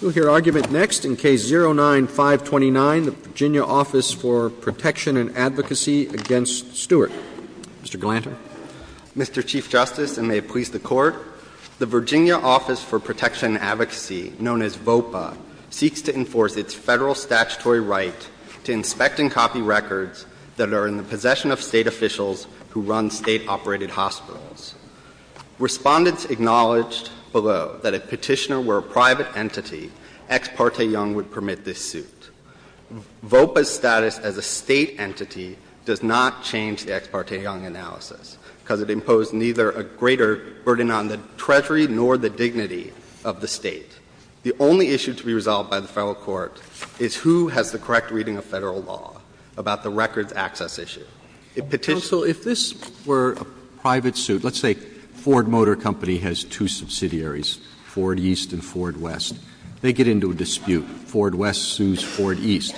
Mr. Chief Justice, and may it please the Court, the Virginia Office for Protection and Advocacy, known as VOPA, seeks to enforce its Federal statutory right to inspect and copy records that are in the possession of State officials who run State-operated hospitals. Respondents acknowledged below that if Petitioner were a private individual and not a private entity, Ex parte Young would permit this suit. VOPA's status as a State entity does not change the Ex parte Young analysis, because it imposed neither a greater burden on the Treasury nor the dignity of the State. The only issue to be resolved by the Federal Court is who has the correct reading of Federal law about the records access issue. If Petitioner was a private individual and not a private entity, the Federal Court would not issue an inquiry. If Petitioner is a private entity, let's say Ford Motor Company has two subsidiaries, Ford East and Ford West. They get into a dispute. Ford West sues Ford East.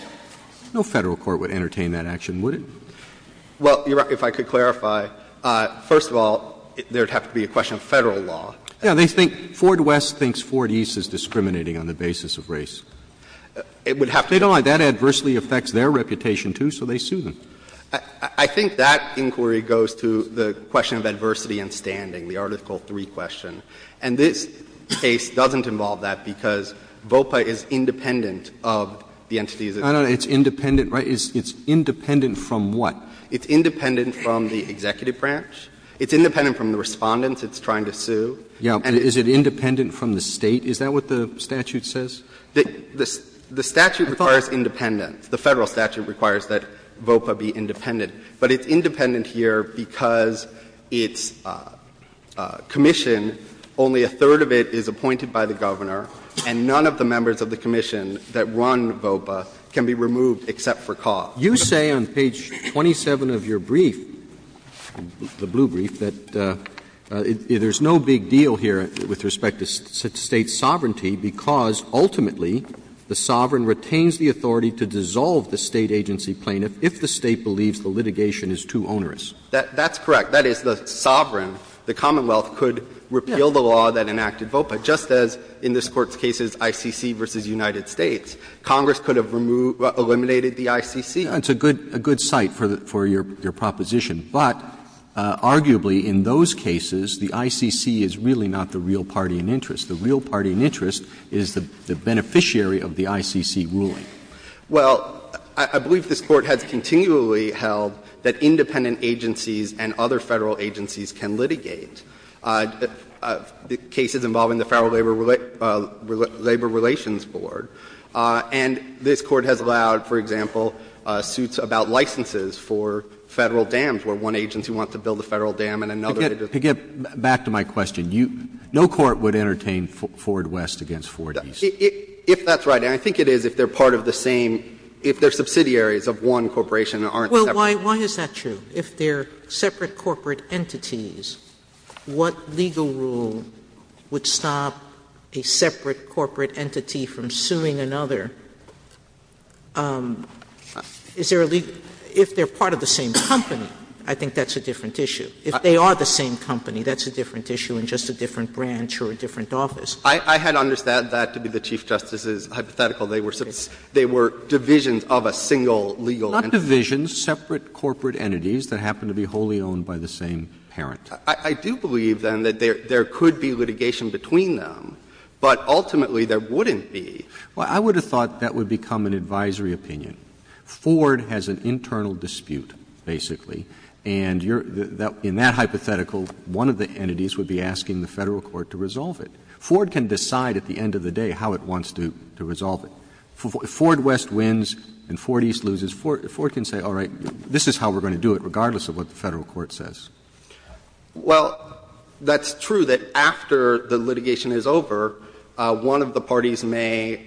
No Federal court would entertain that action, would it? Well, Your Honor, if I could clarify. First of all, there would have to be a question of Federal law. Yeah. But they think Ford West thinks Ford East is discriminating on the basis of race. It would have to be. They don't like that. Adversely affects their reputation, too, so they sue them. I think that inquiry goes to the question of adversity in standing, the Article 3 question. And this case doesn't involve that, because VOPA is independent of the entities it's suing. It's independent, right? It's independent from what? It's independent from the Respondents it's trying to sue. Yeah. And is it independent from the State? Is that what the statute says? The statute requires independence. The Federal statute requires that VOPA be independent. But it's independent here because its commission, only a third of it is appointed by the Governor, and none of the members of the commission that run VOPA can be removed except for cause. You say on page 27 of your brief, the blue brief, that there's no big deal here with respect to State sovereignty, because ultimately the sovereign retains the authority to dissolve the State agency plaintiff if the State believes the litigation is too onerous. That's correct. That is, the sovereign, the Commonwealth, could repeal the law that enacted VOPA, just as in this Court's cases, ICC v. United States. Congress could have removed, eliminated the ICC. It's a good site for your proposition. But arguably in those cases, the ICC is really not the real party in interest. The real party in interest is the beneficiary of the ICC ruling. Well, I believe this Court has continually held that independent agencies and other Federal agencies can litigate. The cases involving the Federal Labor Relations Board. And this Court has allowed, for example, suits about licenses for Federal dams, where one agency wants to build a Federal dam and another agency wants to build a Federal dam. Roberts. No court would entertain Ford West against Ford East. If that's right. And I think it is if they're part of the same, if they're subsidiaries of one corporation and aren't separate. Sotomayor, why is that true? If they're separate corporate entities, what legal rule would stop a separate corporate entity from suing another? Is there a legal — if they're part of the same company, I think that's a different issue. If they are the same company, that's a different issue in just a different branch or a different office. I had understood that to be the Chief Justice's hypothetical. They were divisions of a single legal entity. They were divisions, separate corporate entities that happen to be wholly owned by the same parent. I do believe, then, that there could be litigation between them, but ultimately there wouldn't be. Well, I would have thought that would become an advisory opinion. Ford has an internal dispute, basically, and in that hypothetical, one of the entities would be asking the Federal court to resolve it. Ford can decide at the end of the day how it wants to resolve it. If Ford West wins and Ford East loses, Ford can say, all right, this is how we're going to do it, regardless of what the Federal court says. Well, that's true that after the litigation is over, one of the parties may, you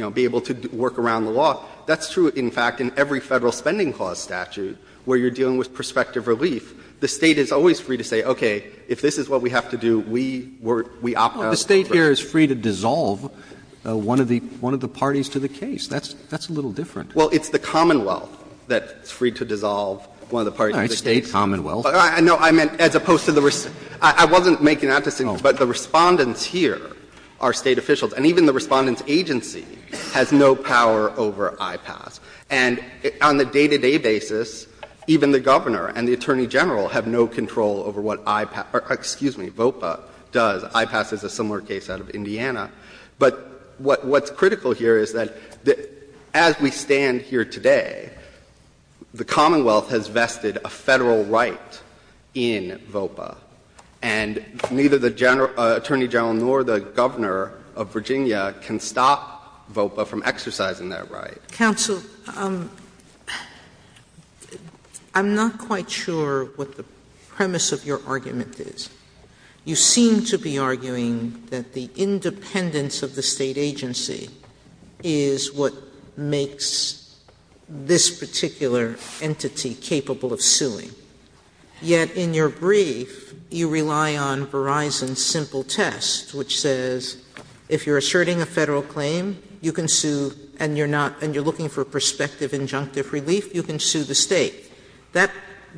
know, be able to work around the law. That's true, in fact, in every Federal spending clause statute where you're dealing with prospective relief. The State is always free to say, okay, if this is what we have to do, we opt out. The State here is free to dissolve one of the parties to the case. That's a little different. Well, it's the Commonwealth that's free to dissolve one of the parties to the case. No, it's the State commonwealth. No, I meant as opposed to the — I wasn't making that distinction, but the Respondents here are State officials, and even the Respondents' agency has no power over IPAS. And on the day-to-day basis, even the Governor and the Attorney General have no control over what IPAS — or excuse me, VOPA does. IPAS is a similar case out of Indiana. But what's critical here is that as we stand here today, the Commonwealth has vested a Federal right in VOPA, and neither the Attorney General nor the Governor of Virginia can stop VOPA from exercising that right. Sotomayor, I'm not quite sure what the premise of your argument is. You seem to be arguing that the independence of the State agency is what makes this particular entity capable of suing. Yet in your brief, you rely on Verizon's simple test, which says if you're asserting a Federal claim, you can sue, and you're not — and you're looking for prospective injunctive relief, you can sue the State. That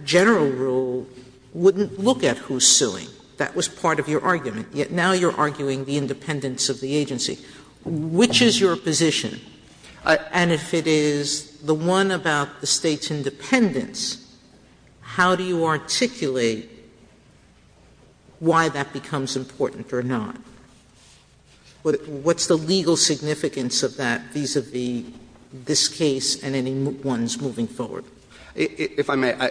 general rule wouldn't look at who's suing. That was part of your argument. Yet now you're arguing the independence of the agency. Which is your position? And if it is the one about the State's independence, how do you articulate why that becomes important or not? What's the legal significance of that vis-à-vis this case and any ones moving forward? If I may,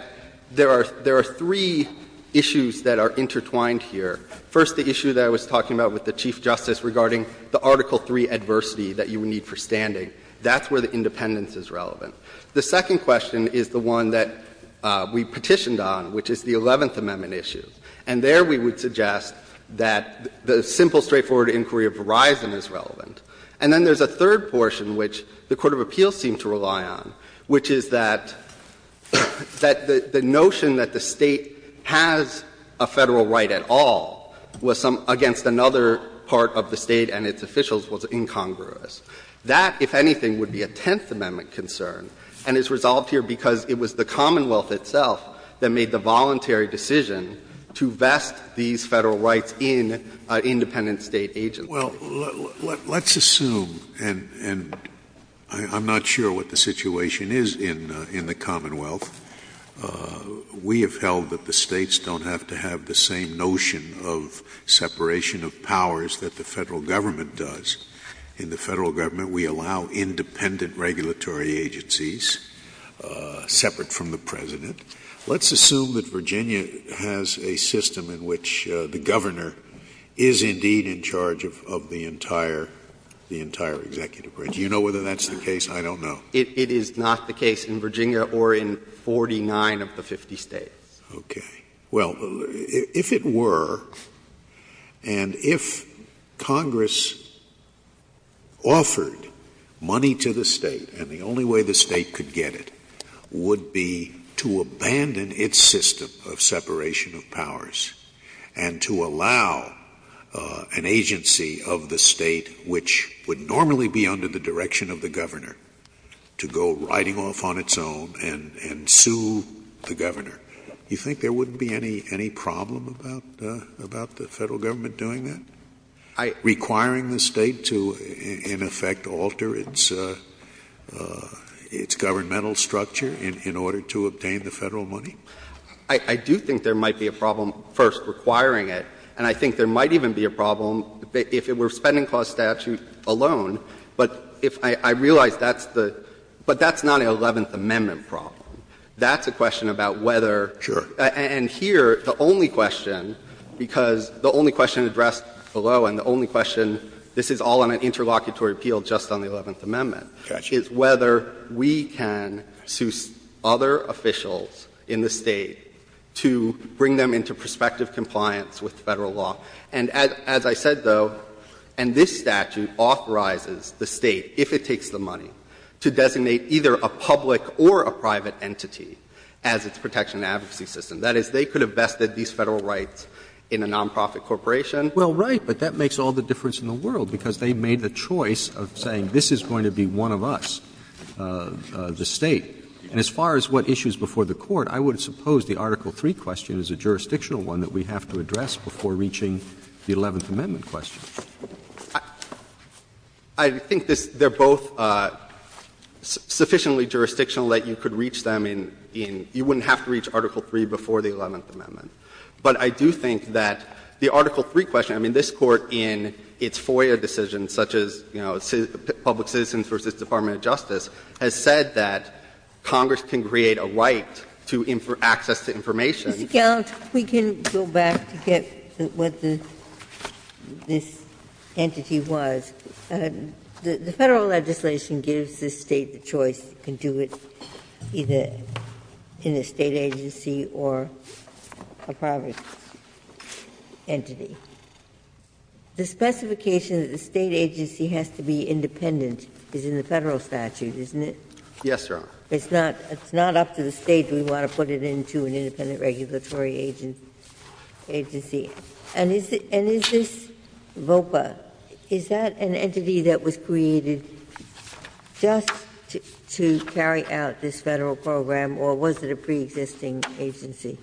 there are three issues that are intertwined here. First, the issue that I was talking about with the Chief Justice regarding the Article 3 adversity that you would need for standing. That's where the independence is relevant. The second question is the one that we petitioned on, which is the Eleventh Amendment issue. And there we would suggest that the simple, straightforward inquiry of Verizon is relevant. And then there's a third portion which the court of appeals seemed to rely on, which is that the notion that the State has a Federal right at all was some — against another part of the State and its officials was incongruous. That, if anything, would be a Tenth Amendment concern, and it's resolved here because it was the Commonwealth itself that made the voluntary decision to vest these Federal rights in an independent State agency. Well, let's assume — and I'm not sure what the situation is in the Commonwealth. We have held that the States don't have to have the same notion of separation of powers that the Federal Government does. In the Federal Government, we allow independent regulatory agencies, separate from the President. Let's assume that Virginia has a system in which the Governor is indeed in charge of the entire — the entire executive branch. You know whether that's the case? I don't know. It is not the case in Virginia or in 49 of the 50 States. Okay. Well, if it were, and if Congress offered money to the State, and the only way the State could get it would be to abandon its system of separation of powers and to allow an agency of the State, which would normally be under the direction of the Governor, to go riding off on its own and — and sue the Governor, you think there wouldn't be any — any problem about — about the Federal Government doing that, requiring the State to, in effect, alter its — its governmental structure in order to obtain the Federal money? I do think there might be a problem, first, requiring it. And I think there might even be a problem if it were Spending Clause statute alone. But if I realize that's the — but that's not an Eleventh Amendment problem. That's a question about whether — Sure. And here, the only question, because the only question addressed below and the only question, this is all on an interlocutory appeal just on the Eleventh Amendment, is whether we can sue other officials in the State to bring them into prospective compliance with Federal law. And as I said, though, and this statute authorizes the State, if it takes the money, to designate either a public or a private entity as its protection and advocacy system. That is, they could have vested these Federal rights in a nonprofit corporation. Well, right, but that makes all the difference in the world, because they made the choice of saying this is going to be one of us, the State. And as far as what issues before the court, I would suppose the Article III question is a jurisdictional one that we have to address before reaching the Eleventh Amendment question. I think this — they're both sufficiently jurisdictional that you could reach them in — you wouldn't have to reach Article III before the Eleventh Amendment. But I do think that the Article III question, I mean, this Court in its FOIA decisions, such as, you know, Public Citizens v. Department of Justice, has said that Congress can create a right to access to information. Ginsburg. Ginsburg. We can go back to get what the — this entity was. The Federal legislation gives the State the choice to do it either in a State agency or a private entity. The specification that the State agency has to be independent is in the Federal statute, isn't it? Yes, Your Honor. It's not up to the State do we want to put it into an independent regulatory agency. And is this VOPA, is that an entity that was created just to carry out this Federal program, or was it a preexisting agency?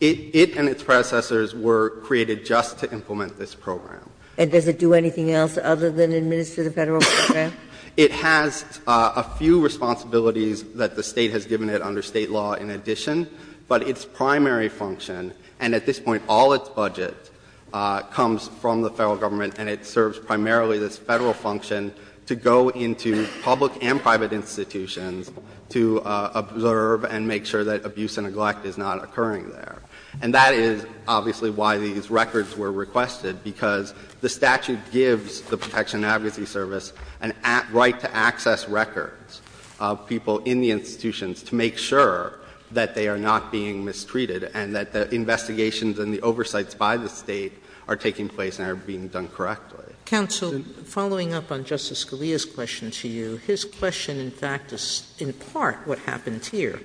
It and its predecessors were created just to implement this program. And does it do anything else other than administer the Federal program? It has a few responsibilities that the State has given it under State law in addition. But its primary function, and at this point all its budget, comes from the Federal government, and it serves primarily this Federal function to go into public and private institutions to observe and make sure that abuse and neglect is not occurring there. And that is obviously why these records were requested, because the statute gives the Protection and Advocacy Service a right to access records of people in the institutions to make sure that they are not being mistreated and that the investigations and the oversights by the State are taking place and are being done correctly. Counsel, following up on Justice Scalia's question to you, his question in fact is in part what happened here.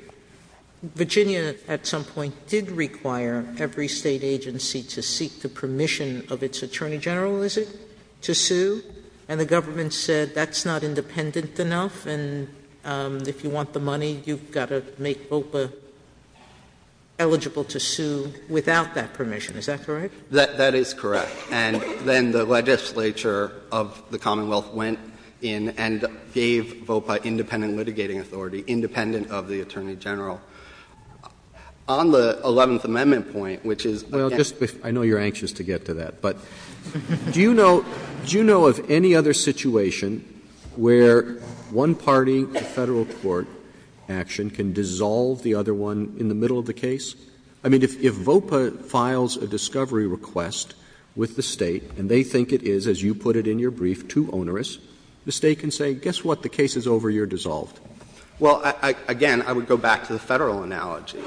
Virginia at some point did require every State agency to seek the permission of its Attorney General, is it, to sue, and the government said that's not independent enough, and if you want the money, you've got to make VOPA eligible to sue without that permission. Is that correct? That is correct. And then the legislature of the Commonwealth went in and gave VOPA independent litigating authority, independent of the Attorney General. On the Eleventh Amendment point, which is again the case of the Federal court, I know you're anxious to get to that, but do you know of any other situation where one party, the Federal court action, can dissolve the other one in the middle of the case? I mean, if VOPA files a discovery request with the State and they think it is, as you put it in your brief, too onerous, the State can say, guess what, the case is over, you're dissolved. Well, again, I would go back to the Federal analogy,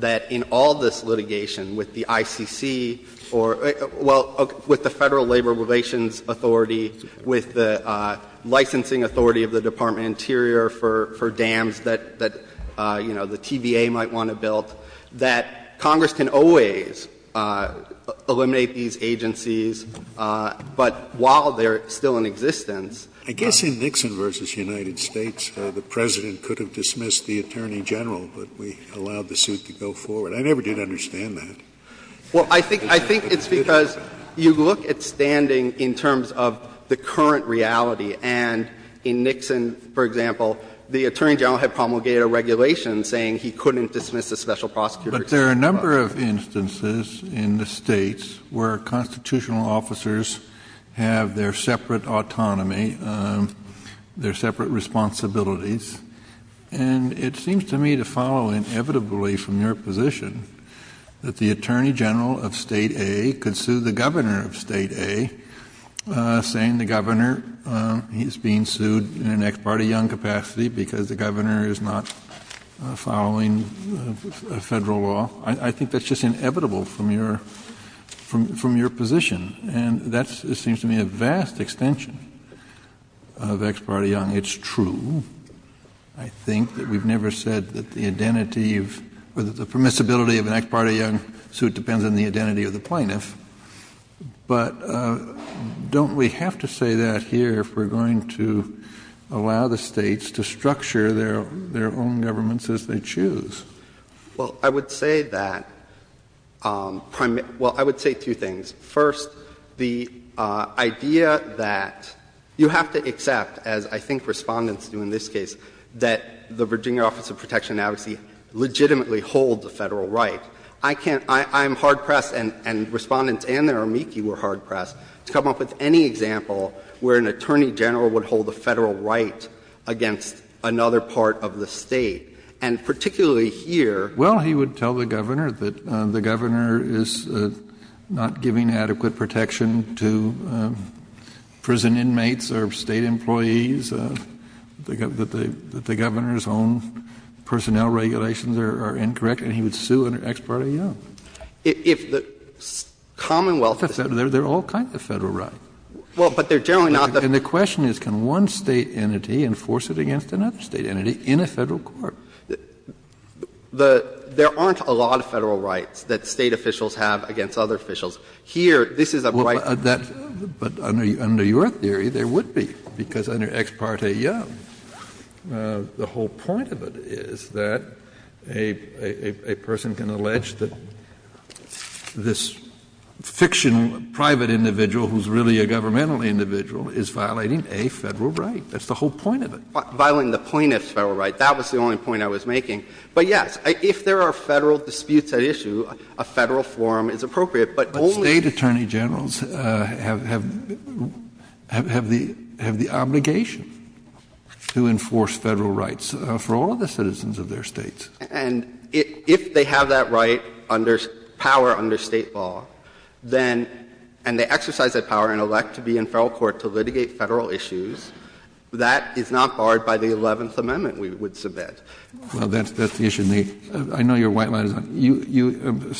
that in all this litigation with the ICC or the Federal Labor Relations Authority, with the licensing authority of the Department of Interior for dams that, you know, the TVA might want to build, that Congress can always eliminate these agencies, but while they're still in existence — I guess in Nixon v. United States, the President could have dismissed the Attorney General, but we allowed the suit to go forward. I never did understand that. Well, I think it's because you look at standing in terms of the current reality. And in Nixon, for example, the Attorney General had promulgated a regulation saying he couldn't dismiss a special prosecutor. But there are a number of instances in the States where constitutional officers have their separate autonomy, their separate responsibilities. And it seems to me to follow inevitably from your position that the Attorney General of State A could sue the Governor of State A, saying the Governor is being sued in an ex parte young suit following Federal law. I think that's just inevitable from your — from your position. And that seems to me a vast extension of ex parte young. It's true, I think, that we've never said that the identity of — or the permissibility of an ex parte young suit depends on the identity of the plaintiff. But don't we have to say that here if we're going to allow the States to structure their own governments as they choose? Well, I would say that — well, I would say two things. First, the idea that — you have to accept, as I think Respondents do in this case, that the Virginia Office of Protection and Advocacy legitimately holds a Federal right. I can't — I'm hard-pressed, and Respondents and their amici were hard-pressed, to come up with any example where an Attorney General would hold a Federal right against another part of the State. And particularly here — Well, he would tell the Governor that the Governor is not giving adequate protection to prison inmates or State employees, that the Governor's own personnel regulations are incorrect, and he would sue an ex parte young. If the Commonwealth — They're all kinds of Federal rights. Well, but they're generally not the — And the question is, can one State entity enforce it against another State entity in a Federal court? The — there aren't a lot of Federal rights that State officials have against other officials. Here, this is a bright — Well, that — but under your theory, there would be, because under ex parte young, the whole point of it is that a person can allege that this fiction private individual who's really a governmental individual is violating a Federal right. That's the whole point of it. Violating the plaintiff's Federal right, that was the only point I was making. But yes, if there are Federal disputes at issue, a Federal forum is appropriate, but only — But State Attorney Generals have — have the — have the obligation to enforce Federal rights for all of the citizens of their States. And if they have that right under — power under State law, then — and they exercise that power and elect to be in Federal court to litigate Federal issues, that is not barred by the Eleventh Amendment, we would submit. Well, that's — that's the issue in the — I know your white line is up. You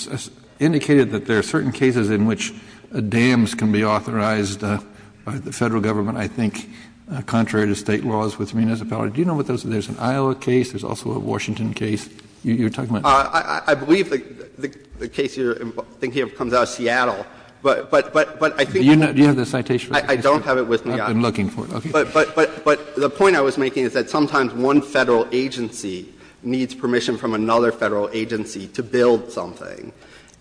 indicated that there are certain cases in which dams can be authorized by the Federal government, I think, contrary to State laws with meanness of power. Do you know what those — there's an Iowa case. There's also a Washington case you're talking about. I believe the case you're thinking of comes out of Seattle. But — but — but I think — Do you have the citation? I don't have it with me. I've been looking for it. Okay. But — but — but the point I was making is that sometimes one Federal agency needs permission from another Federal agency to build something.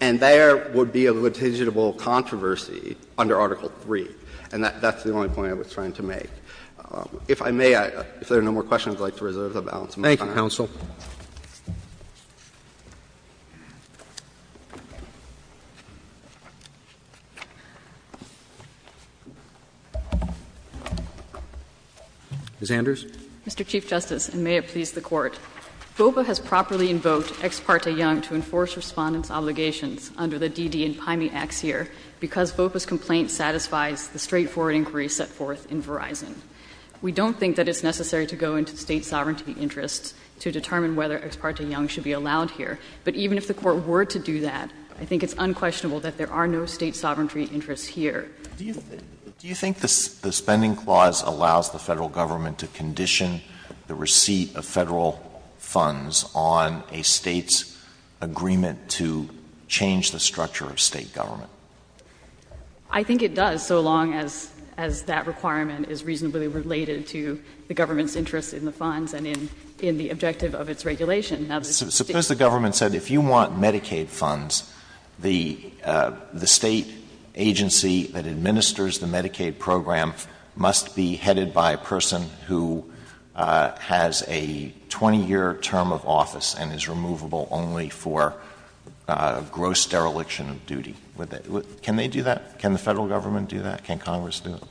And there would be a litigable controversy under Article III. And that's the only point I was trying to make. If I may, if there are no more questions, I'd like to reserve the balance of my time. Thank you, counsel. Ms. Anders. Mr. Chief Justice, and may it please the Court, VOPA has properly invoked Ex parte Young to enforce Respondent's obligations under the D.D. and Pyme Acts here because VOPA's complaint satisfies the straightforward inquiry set forth in Verizon. We don't think that it's necessary to go into State sovereignty interests to determine whether Ex parte Young should be allowed here. But even if the Court were to do that, I think it's unquestionable that there are no State sovereignty interests here. Do you think — do you think the Spending Clause allows the Federal Government to condition the receipt of Federal funds on a State's agreement to change the structure of State government? I think it does, so long as that requirement is reasonably related to the government's interest in the funds and in the objective of its regulation. Suppose the government said, if you want Medicaid funds, the State agency that administers the Medicaid program must be headed by a person who has a 20-year term of office and is removable only for gross dereliction of duty. Would that — can they do that? Can the Federal Government do that? Can Congress do it?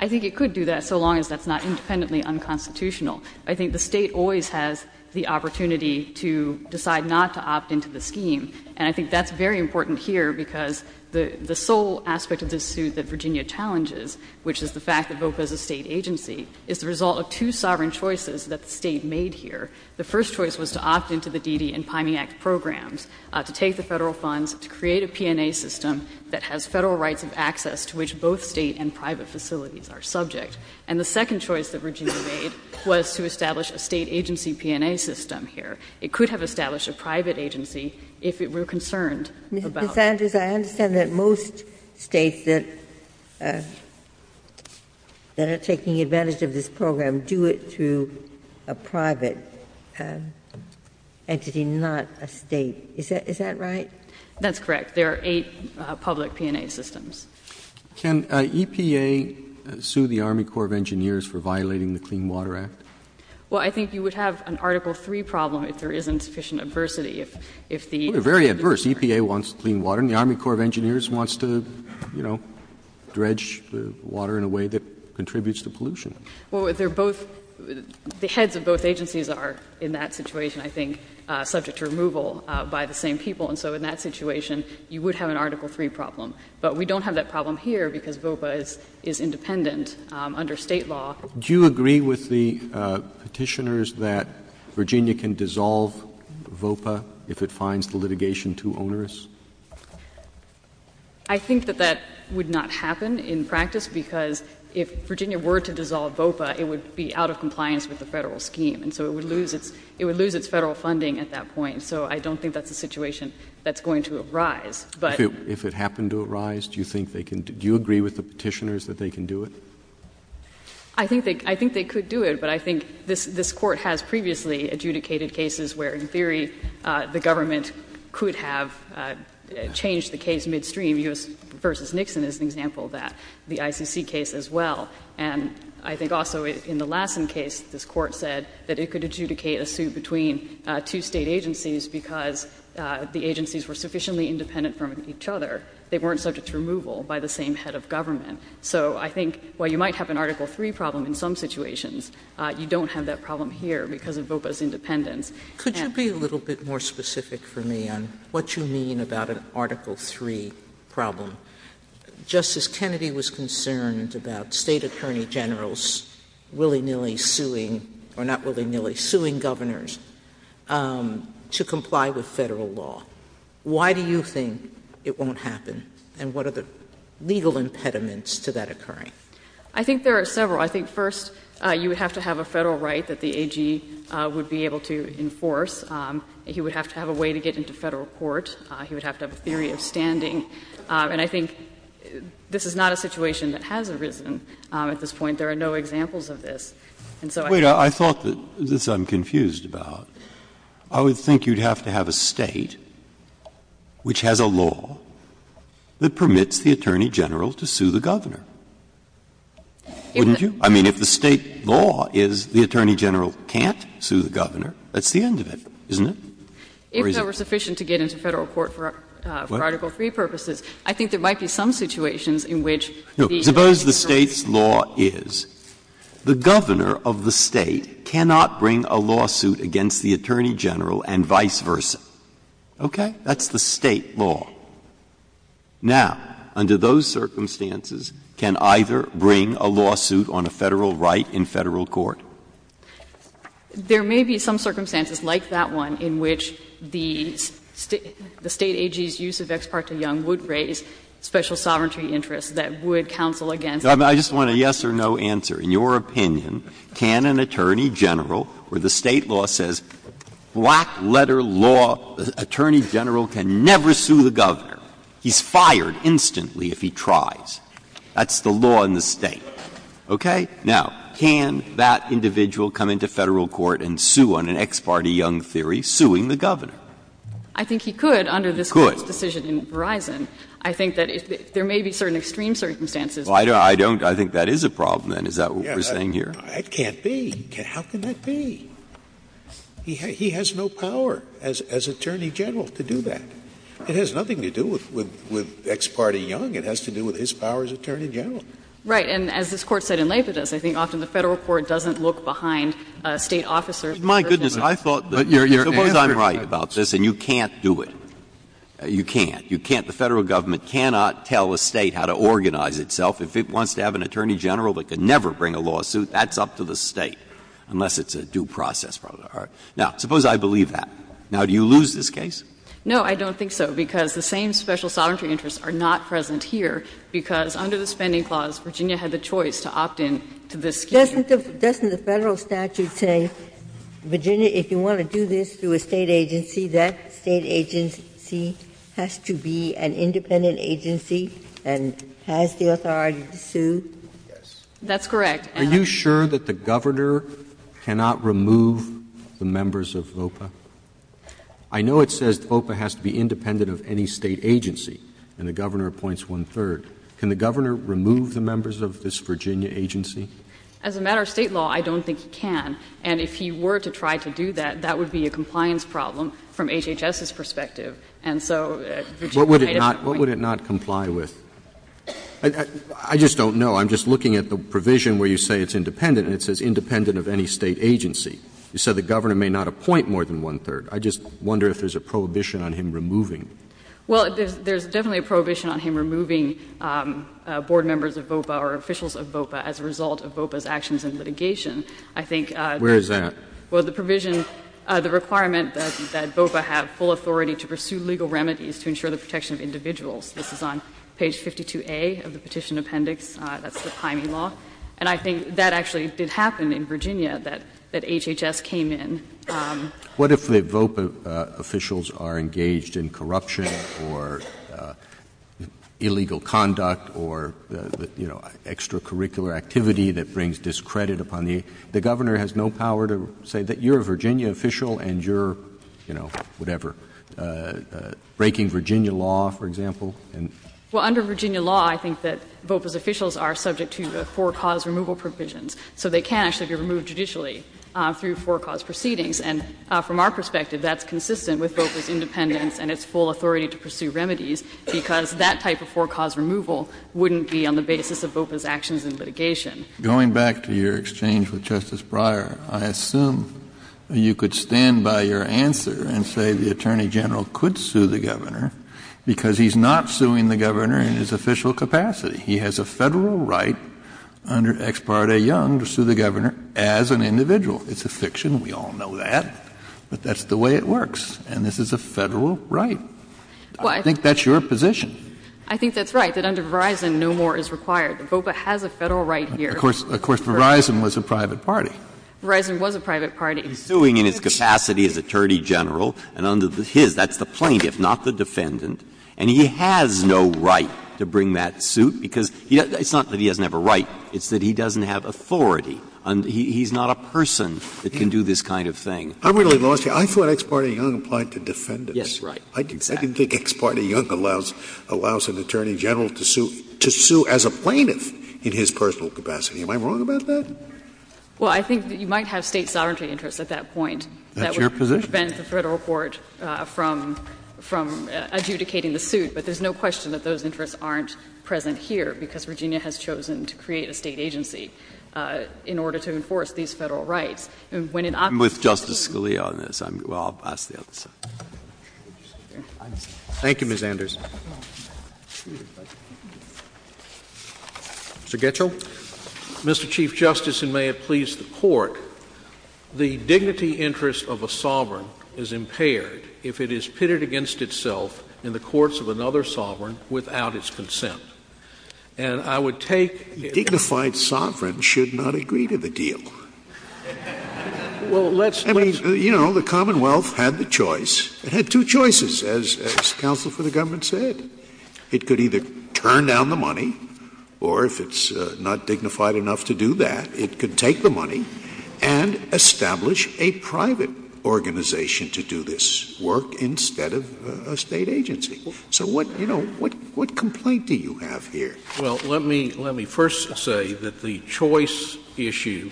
I think it could do that, so long as that's not independently unconstitutional. I think the State always has the opportunity to decide not to opt into the scheme, and I think that's very important here because the sole aspect of this suit that Virginia challenges, which is the fact that VOPA is a State agency, is the result of two sovereign choices that the State made here. The first choice was to opt into the D.D. and Pyme Act programs, to take the Federal funds, to create a P&A system that has Federal rights of access to which both State and private facilities are subject. And the second choice that Virginia made was to establish a State agency P&A system here. It could have established a private agency if it were concerned about it. Ginsburg. Ms. Sanders, I understand that most States that are taking advantage of this program do it through a private entity, not a State. Is that right? That's correct. There are eight public P&A systems. Roberts. Can EPA sue the Army Corps of Engineers for violating the Clean Water Act? Well, I think you would have an Article III problem if there isn't sufficient adversity. If the State is concerned. Well, they're very adverse. EPA wants clean water, and the Army Corps of Engineers wants to, you know, dredge the water in a way that contributes to pollution. Well, they're both the heads of both agencies are in that situation, I think, subject to removal by the same people. And so in that situation, you would have an Article III problem. But we don't have that problem here because VOPA is independent under State law. Do you agree with the petitioners that Virginia can dissolve VOPA if it finds the litigation too onerous? I think that that would not happen in practice because if Virginia were to dissolve VOPA, it would be out of compliance with the Federal scheme. And so it would lose its Federal funding at that point. So I don't think that's a situation that's going to arise. But — If it happened to arise, do you think they can — do you agree with the petitioners that they can do it? I think they could do it, but I think this Court has previously adjudicated cases where, in theory, the government could have changed the case midstream. U.S. v. Nixon is an example of that, the ICC case as well. And I think also in the Lassen case, this Court said that it could adjudicate a suit between two State agencies because the agencies were sufficiently independent from each other. They weren't subject to removal by the same head of government. So I think while you might have an Article III problem in some situations, you don't have that problem here because of VOPA's independence. And— Could you be a little bit more specific for me on what you mean about an Article III problem? Justice Kennedy was concerned about State attorney generals willy-nilly suing or not willy-nilly, suing governors to comply with Federal law. Why do you think it won't happen, and what are the legal impediments to that occurring? I think there are several. I think first, you would have to have a Federal right that the AG would be able to enforce. He would have to have a way to get into Federal court. He would have to have a theory of standing. And I think this is not a situation that has arisen at this point. There are no examples of this. And so I think— Wait. I thought that, this I'm confused about, I would think you'd have to have a State which has a law that permits the attorney general to sue the governor. Wouldn't you? I mean, if the State law is the attorney general can't sue the governor, that's the end of it, isn't it? If there were sufficient to get into Federal court for Article III purposes, I think there might be some situations in which the Attorney General— The Governor of the State cannot bring a lawsuit against the Attorney General and vice versa. Okay? That's the State law. Now, under those circumstances, can either bring a lawsuit on a Federal right in Federal court? There may be some circumstances like that one in which the State AG's use of Ex parte Young would raise special sovereignty interests that would counsel against the Attorney Now, let me ask you a simple question and then I'll give you an answer. In your opinion, can an Attorney General, where the State law says black letter law, the Attorney General can never sue the governor, he's fired instantly if he tries. That's the law in the State. Okay? Now, can that individual come into Federal court and sue on an Ex parte Young theory, suing the governor? I think he could under this Court's decision in Verizon. Could. I think that there may be certain extreme circumstances. I don't think that is a problem, then. Is that what we're saying here? It can't be. How can that be? He has no power as Attorney General to do that. It has nothing to do with Ex parte Young. It has to do with his power as Attorney General. Right. And as this Court said in Lafitte, I think often the Federal court doesn't look behind a State officer. My goodness. I thought that you're right about this and you can't do it. You can't. The Federal government cannot tell a State how to organize itself. If it wants to have an Attorney General that can never bring a lawsuit, that's up to the State, unless it's a due process problem. Now, suppose I believe that. Now, do you lose this case? No, I don't think so, because the same special sovereignty interests are not present here, because under the Spending Clause, Virginia had the choice to opt in to this scheme. Doesn't the Federal statute say, Virginia, if you want to do this through a State agency, that State agency has to be an independent agency and has the authority to sue? Yes. That's correct. Are you sure that the Governor cannot remove the members of VOPA? I know it says VOPA has to be independent of any State agency, and the Governor appoints one-third. Can the Governor remove the members of this Virginia agency? As a matter of State law, I don't think he can. And if he were to try to do that, that would be a compliance problem from HHS's perspective. And so Virginia made up a point. What would it not comply with? I just don't know. I'm just looking at the provision where you say it's independent, and it says independent of any State agency. You said the Governor may not appoint more than one-third. I just wonder if there's a prohibition on him removing. Well, there's definitely a prohibition on him removing board members of VOPA or officials of VOPA as a result of VOPA's actions in litigation. I think that's the provision. Where is that? Well, the provision, the requirement that VOPA have full authority to pursue legal remedies to ensure the protection of individuals. This is on page 52A of the Petition Appendix. That's the Pyme law. And I think that actually did happen in Virginia, that HHS came in. What if the VOPA officials are engaged in corruption or illegal conduct or, you know, extracurricular activity that brings discredit upon the — the Governor has no power to say that you're a Virginia official and you're, you know, whatever, breaking Virginia law, for example? Well, under Virginia law, I think that VOPA's officials are subject to the four-cause removal provisions. So they can actually be removed judicially through four-cause proceedings. And from our perspective, that's consistent with VOPA's independence and its full authority to pursue remedies, because that type of four-cause removal wouldn't be on the basis of VOPA's actions in litigation. Going back to your exchange with Justice Breyer, I assume you could stand by your answer and say the Attorney General could sue the Governor because he's not suing the Governor in his official capacity. He has a Federal right under Ex parte Young to sue the Governor as an individual. It's a fiction. We all know that. But that's the way it works. And this is a Federal right. I think that's your position. I think that's right, that under Verizon, no more is required. VOPA has a Federal right here. Of course, Verizon was a private party. Verizon was a private party. He's suing in his capacity as Attorney General, and under his, that's the plaintiff, not the defendant. And he has no right to bring that suit, because it's not that he doesn't have a right. It's that he doesn't have authority. He's not a person that can do this kind of thing. I'm really lost here. I thought Ex parte Young applied to defendants. Yes, right. Exactly. I didn't think Ex parte Young allows an Attorney General to sue as a plaintiff in his personal capacity. Am I wrong about that? Well, I think that you might have State sovereignty interests at that point. That's your position. That would prevent the Federal court from adjudicating the suit. But there's no question that those interests aren't present here, because Virginia has chosen to create a State agency in order to enforce these Federal rights. And when an opposition is suing you… I'm with Justice Scalia on this. I'm — well, I'll ask the other side. Thank you, Ms. Anders. Mr. Getchell. Mr. Chief Justice, and may it please the Court, the dignity interest of a sovereign is impaired if it is pitted against itself in the courts of another sovereign without its consent. And I would take — A dignified sovereign should not agree to the deal. Well, let's — I mean, you know, the Commonwealth had the choice — it had two choices, as Counsel for the Government said. It could either turn down the money, or if it's not dignified enough to do that, it could take the money and establish a private organization to do this work instead of a State agency. So what — you know, what complaint do you have here? Well, let me — let me first say that the choice issue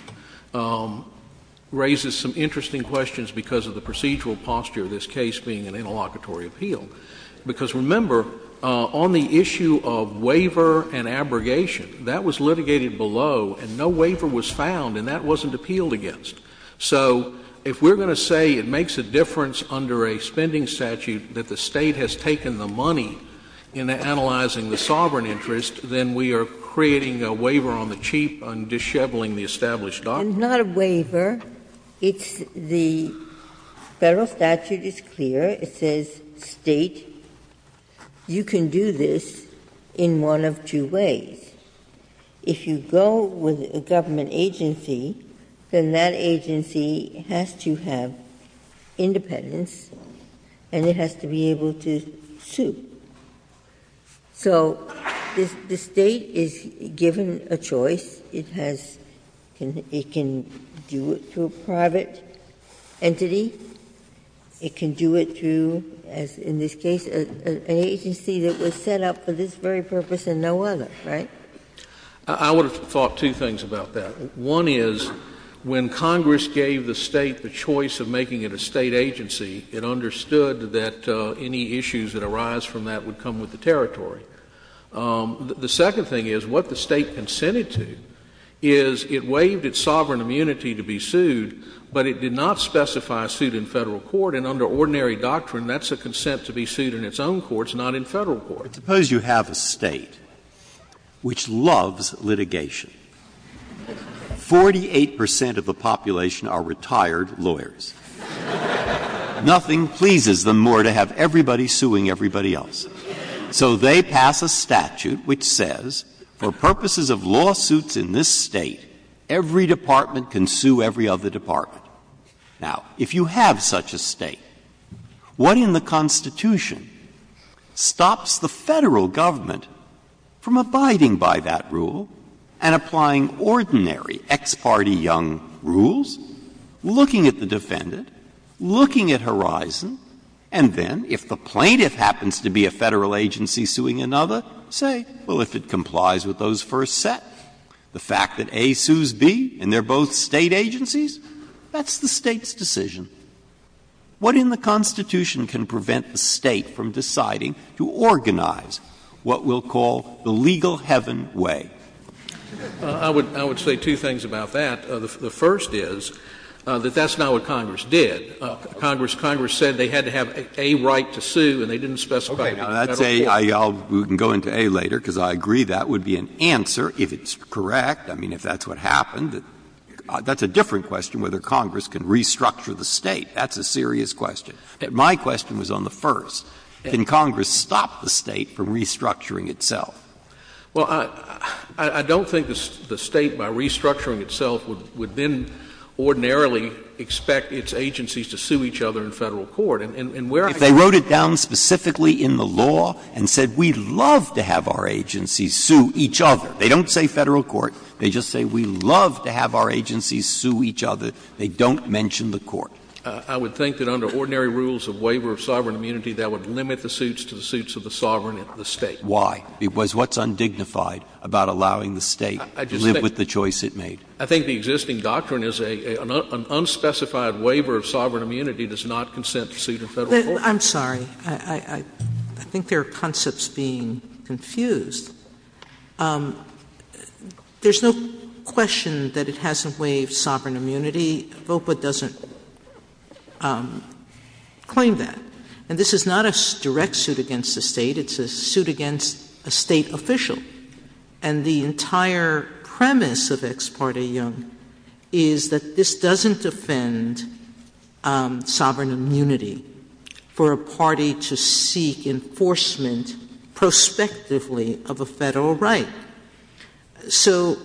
raises some interesting questions because of the procedural posture of this case being an interlocutory appeal. Because, remember, on the issue of waiver and abrogation, that was litigated below, and no waiver was found, and that wasn't appealed against. So if we're going to say it makes a difference under a spending statute that the State has taken the money in analyzing the sovereign interest, then we are creating a waiver on the cheap on disheveling the established doctrine. It's not a waiver. It's the Federal statute is clear. It says, State, you can do this in one of two ways. If you go with a government agency, then that agency has to have independence and it has to be able to sue. So the State is given a choice. It has — it can do it through a private entity. It can do it through, as in this case, an agency that was set up for this very purpose and no other, right? I would have thought two things about that. One is, when Congress gave the State the choice of making it a State agency, it understood that any issues that arise from that would come with the territory. The second thing is, what the State consented to is it waived its sovereign immunity to be sued, but it did not specify a suit in Federal court, and under ordinary doctrine, that's a consent to be sued in its own courts, not in Federal courts. Breyer, suppose you have a State which loves litigation. Forty-eight percent of the population are retired lawyers. Nothing pleases them more to have everybody suing everybody else. So they pass a statute which says, for purposes of lawsuits in this State, every department can sue every other department. Now, if you have such a State, what in the Constitution stops the Federal government from abiding by that rule and applying ordinary ex parte young rules, looking at the defendant, looking at Horizon, and then, if the plaintiff happens to be a Federal agency suing another, say, well, if it complies with those first set, the fact that A sues B, and they're both State agencies, that's the State's decision. What in the Constitution can prevent the State from deciding to organize what we'll call the legal heaven way? I would say two things about that. The first is that that's not what Congress did. Congress said they had to have a right to sue, and they didn't specify it in Federal court. Breyer, we can go into A later, because I agree that would be an answer, if it's correct. I mean, if that's what happened, that's a different question, whether Congress can restructure the State. That's a serious question. My question was on the first. Can Congress stop the State from restructuring itself? Well, I don't think the State, by restructuring itself, would then ordinarily expect its agencies to sue each other in Federal court. And where I got that from is that if they wrote it down specifically in the law and said we'd love to have our agencies sue each other, they don't say Federal court, they just say we'd love to have our agencies sue each other, they don't mention the court. I would think that under ordinary rules of waiver of sovereign immunity, that would limit the suits to the suits of the sovereign of the State. Why? Because what's undignified about allowing the State to live with the choice it made? I think the existing doctrine is an unspecified waiver of sovereign immunity does not consent to suit in Federal court. I'm sorry. I think there are concepts being confused. There's no question that it hasn't waived sovereign immunity. VOPA doesn't claim that. And this is not a direct suit against the State. It's a suit against a State official. And the entire premise of Ex parte Young is that this doesn't defend sovereign immunity for a party to seek enforcement prospectively of a Federal right. So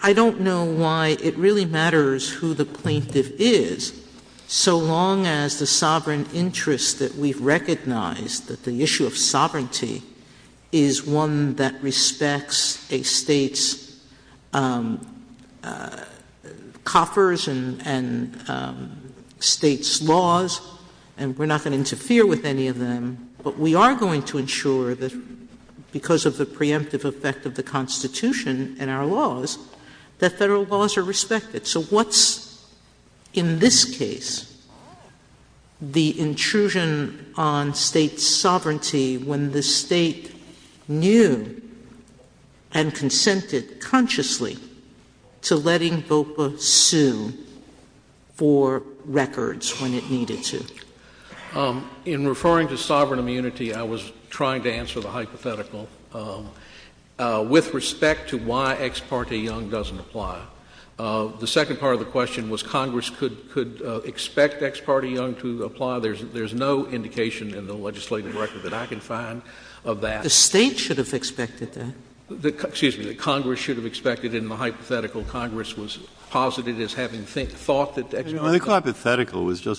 I don't know why it really matters who the plaintiff is, so long as the sovereign interest that we've recognized that the issue of sovereignty is one that respects a Federal law and we're not going to interfere with any of them, but we are going to ensure that because of the preemptive effect of the Constitution and our laws, that Federal laws are respected. So what's in this case the intrusion on State sovereignty when the State knew and In referring to sovereign immunity, I was trying to answer the hypothetical with respect to why Ex parte Young doesn't apply. The second part of the question was Congress could expect Ex parte Young to apply. There's no indication in the legislative record that I can find of that. The State should have expected that. Excuse me. The Congress should have expected in the hypothetical Congress was posited as having thought that Ex parte Young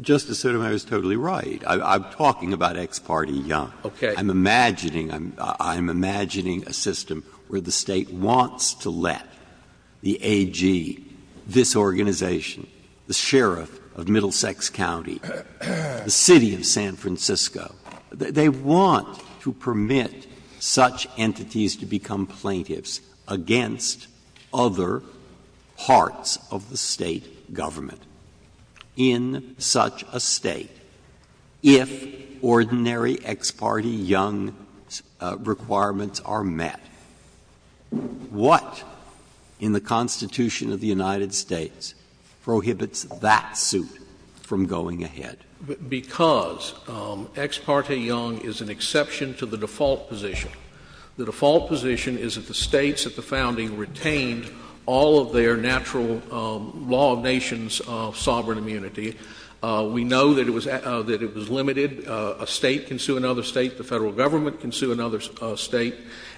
Justice Sotomayor is totally right. I'm talking about Ex parte Young. Okay. I'm imagining a system where the State wants to let the AG, this organization, the sheriff of Middlesex County, the city of San Francisco, they want to permit such entities to become plaintiffs against other parts of the State government. In such a State, if ordinary Ex parte Young requirements are met, what in the Constitution of the United States prohibits that suit from going ahead? Because Ex parte Young is an exception to the default position. The default position is that the States at the founding retained all of their natural law of nations of sovereign immunity. We know that it was limited. A State can sue another State. The Federal Government can sue another State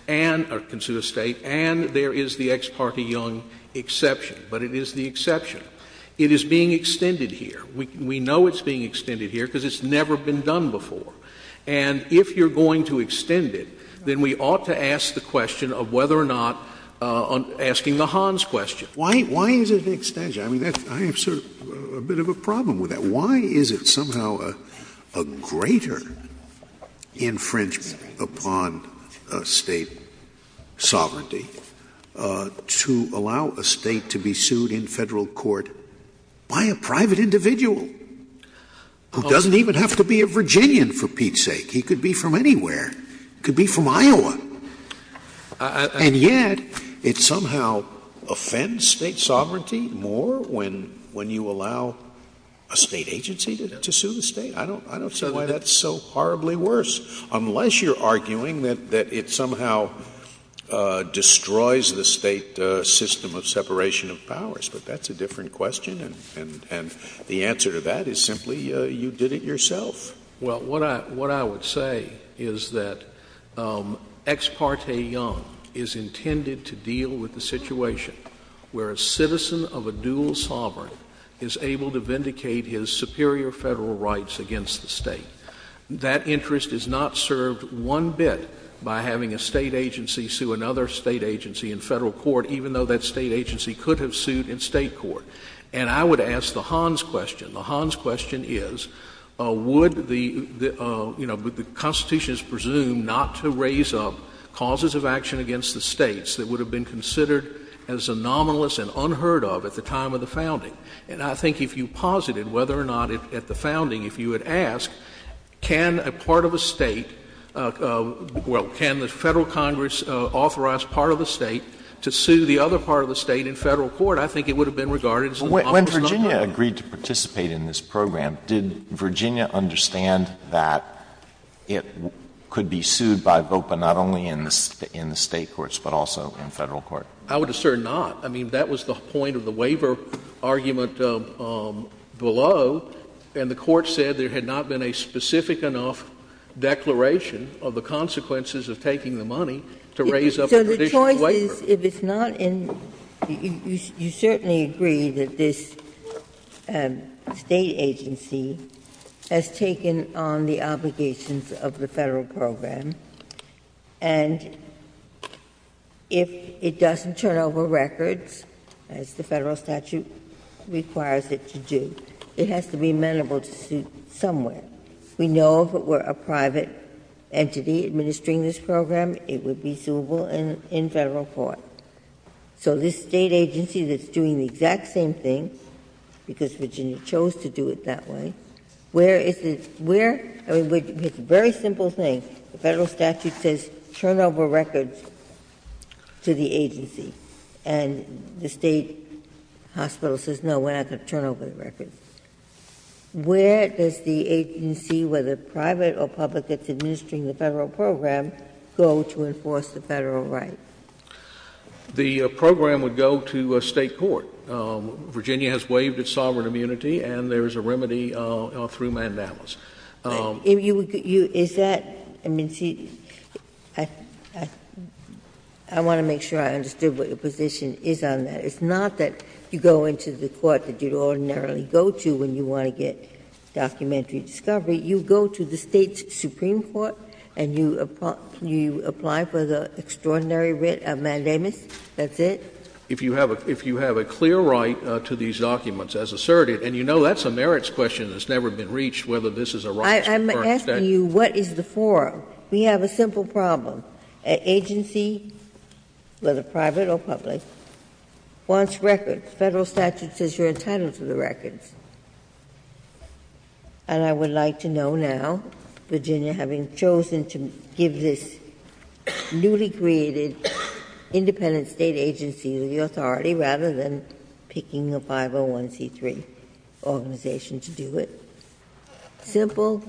and — or can sue a State. And there is the Ex parte Young exception. But it is the exception. It is being extended here. We know it's being extended here because it's never been done before. And if you're going to extend it, then we ought to ask the question of whether or not — asking the Hans question. Why is it an extension? I mean, I have sort of a bit of a problem with that. Why is it somehow a greater infringement upon State sovereignty to allow a State to be sued in Federal court by a private individual who doesn't even have to be a Virginian for Pete's sake? He could be from Iowa. And yet it somehow offends State sovereignty more when you allow a State agency to sue the State. I don't see why that's so horribly worse, unless you're arguing that it somehow destroys the State system of separation of powers. But that's a different question. And the answer to that is simply you did it yourself. Well, what I would say is that Ex parte Young is intended to deal with the situation where a citizen of a dual sovereign is able to vindicate his superior Federal rights against the State. That interest is not served one bit by having a State agency sue another State agency in Federal court, even though that State agency could have sued in State court. And I would ask the Hans question. The Hans question is, would the — you know, the Constitution is presumed not to raise up causes of action against the States that would have been considered as a nominalist and unheard of at the time of the founding. And I think if you posited whether or not at the founding, if you had asked, can a part of a State — well, can the Federal Congress authorize part of a State to sue the other part of the State in Federal court, I think it would have been regarded as an — When Virginia agreed to participate in this program, did Virginia understand that it could be sued by a vote, but not only in the State courts, but also in Federal court? I would assert not. I mean, that was the point of the waiver argument below, and the Court said there had not been a specific enough declaration of the consequences of taking the money to raise up a traditional waiver. Ginsburg. So the choice is, if it's not in — you certainly agree that this State agency has taken on the obligations of the Federal program, and if it doesn't turn over records, as the Federal statute requires it to do, it has to be amenable to sue somewhere. We know if it were a private entity administering this program, it would be suable in Federal court. So this State agency that's doing the exact same thing, because Virginia chose to do it that way, where is it — where — I mean, it's a very simple thing. The Federal statute says turn over records to the agency, and the State hospital says, no, we're not going to turn over the records. Where does the agency, whether private or public, that's administering the Federal program, go to enforce the Federal right? The program would go to State court. Virginia has waived its sovereign immunity, and there is a remedy through mandamus. Is that — I mean, see, I want to make sure I understood what your position is on that. It's not that you go into the court that you'd ordinarily go to when you want to get the extraordinary writ of mandamus, that's it? If you have a clear right to these documents as asserted, and you know that's a merits question that's never been reached, whether this is a right or a statute. I'm asking you, what is the forum? We have a simple problem. An agency, whether private or public, wants records. Federal statute says you're entitled to the records. And I would like to know now, Virginia having chosen to give this newly created independent State agency the authority rather than picking a 501c3 organization to do it. Simple.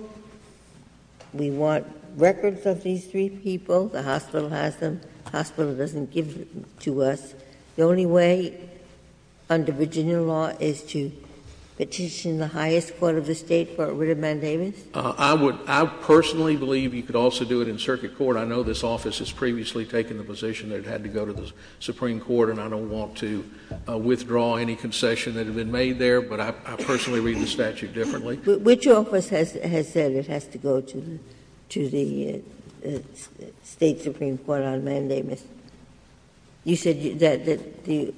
We want records of these three people. The hospital has them. The hospital doesn't give them to us. The only way under Virginia law is to petition the highest court of the State for a writ of mandamus? I would — I personally believe you could also do it in circuit court. I know this office has previously taken the position that it had to go to the Supreme Court, and I don't want to withdraw any concession that had been made there. But I personally read the statute differently. Which office has said it has to go to the State Supreme Court on mandamus? You said that the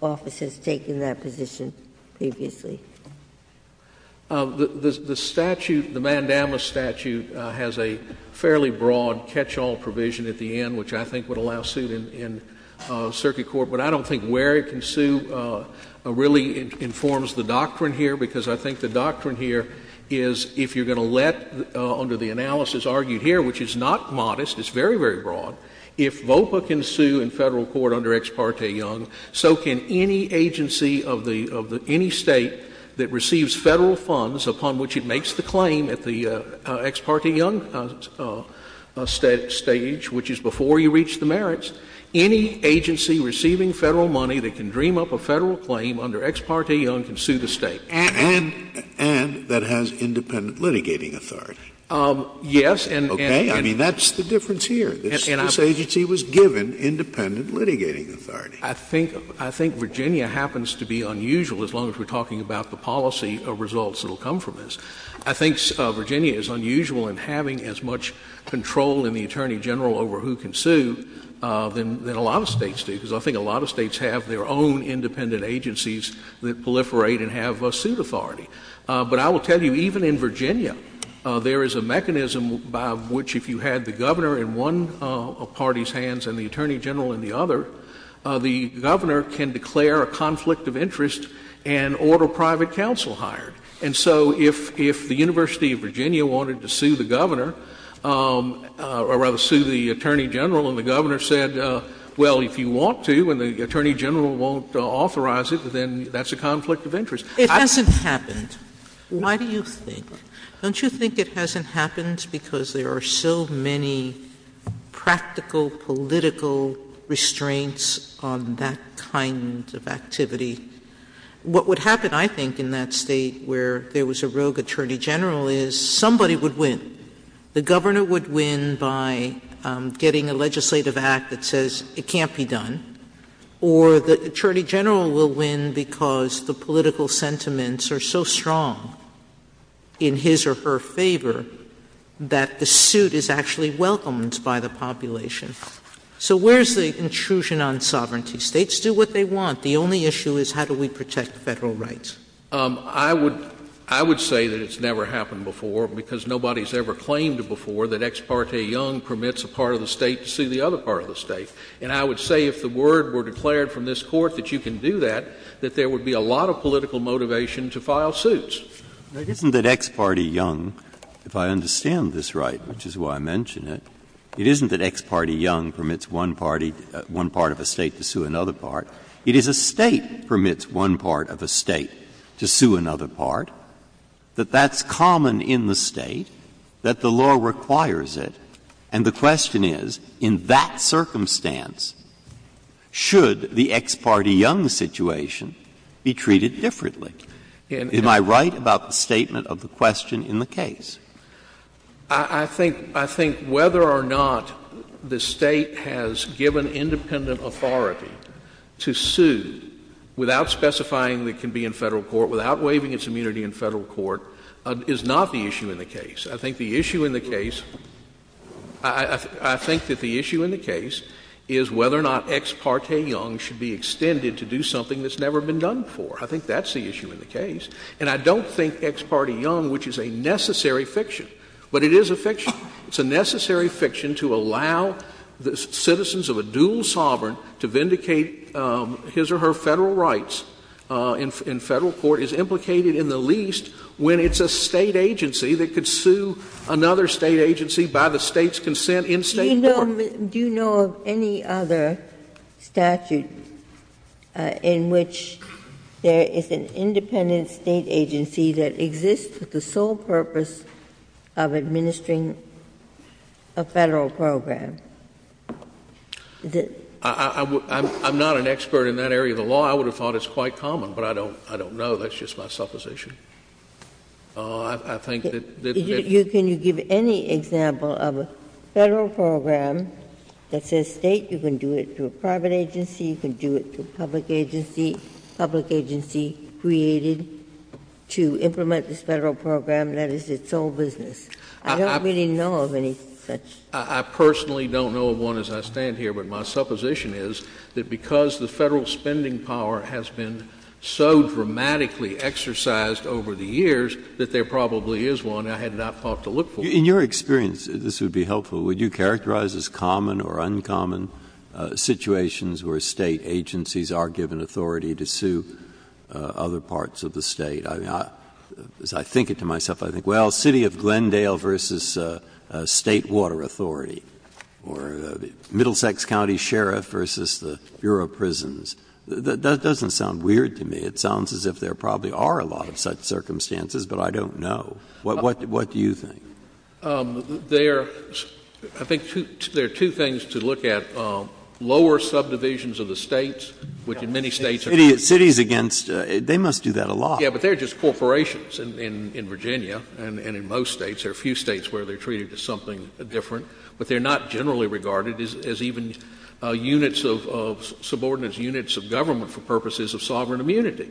office has taken that position previously. The statute, the mandamus statute, has a fairly broad catch-all provision at the end, which I think would allow suit in circuit court. But I don't think where it can sue really informs the doctrine here, because I think the doctrine here is if you're going to let, under the analysis argued here, which is not modest, it's very, very broad, if VOPA can sue in Federal court under Ex parte Young, so can any agency of the — of any State that receives Federal funds upon which it makes the claim at the Ex parte Young stage, which is before you reach the merits. Any agency receiving Federal money that can dream up a Federal claim under Ex parte Young can sue the State. And that has independent litigating authority. Yes. Okay? I mean, that's the difference here. This agency was given independent litigating authority. I think Virginia happens to be unusual, as long as we're talking about the policy of results that will come from this. I think Virginia is unusual in having as much control in the Attorney General over who can sue than a lot of States do, because I think a lot of States have their own independent agencies that proliferate and have suit authority. But I will tell you, even in Virginia, there is a mechanism by which if you had the Governor in one party's hands and the Attorney General in the other, the Governor can declare a conflict of interest and order private counsel hired. And so if the University of Virginia wanted to sue the Governor, or rather sue the Attorney General, and the Governor said, well, if you want to and the Attorney General won't authorize it, then that's a conflict of interest. It hasn't happened. Why do you think? Don't you think it hasn't happened because there are so many practical political restraints on that kind of activity? What would happen, I think, in that State where there was a rogue Attorney General is somebody would win. The Governor would win by getting a legislative act that says it can't be done, or the Attorney General will win because the political sentiments are so strong in his or her favor that the suit is actually welcomed by the population. So where is the intrusion on sovereignty? States do what they want. The only issue is how do we protect Federal rights? I would say that it's never happened before because nobody has ever claimed before that Ex parte Young permits a part of the State to sue the other part of the State. And I would say if the word were declared from this Court that you can do that, that there would be a lot of political motivation to file suits. Breyer. It isn't that Ex parte Young, if I understand this right, which is why I mention it, it isn't that Ex parte Young permits one party, one part of the State to sue another part. It is a State permits one part of a State to sue another part. That that's common in the State, that the law requires it. And the question is, in that circumstance, should the Ex parte Young situation be treated differently? Am I right about the statement of the question in the case? I think whether or not the State has given independent authority to sue without specifying it can be in Federal court, without waiving its immunity in Federal court, is not the issue in the case. I think the issue in the case, I think that the issue in the case is whether or not Ex parte Young should be extended to do something that's never been done before. I think that's the issue in the case. And I don't think Ex parte Young, which is a necessary fiction, but it is a fiction. It's a necessary fiction to allow the citizens of a dual sovereign to vindicate his or her Federal rights in Federal court, is implicated in the least when it's a State agency that could sue another State agency by the State's consent in State court. Ginsburg. Do you know of any other statute in which there is an independent State agency that exists with the sole purpose of administering a Federal program? Is it? I'm not an expert in that area of the law. I would have thought it's quite common, but I don't know. That's just my supposition. Oh, I think that the ---- Can you give any example of a Federal program that says State? You can do it to a private agency. You can do it to a public agency, public agency created to implement this Federal program that is its sole business. I don't really know of any such. I personally don't know of one as I stand here, but my supposition is that because the Federal spending power has been so dramatically exercised over the years, that there probably is one. I had not thought to look for one. In your experience, this would be helpful, would you characterize as common or uncommon situations where State agencies are given authority to sue other parts of the State? As I think it to myself, I think, well, City of Glendale v. State Water Authority or Middlesex County Sheriff v. Bureau of Prisons. That doesn't sound weird to me. It sounds as if there probably are a lot of such circumstances, but I don't know. What do you think? There are, I think there are two things to look at. Lower subdivisions of the States, which in many States are ---- Cities against, they must do that a lot. Yes, but they are just corporations in Virginia and in most States. There are a few States where they are treated as something different, but they are not generally regarded as even units of subordinates, units of government for purposes of sovereign immunity.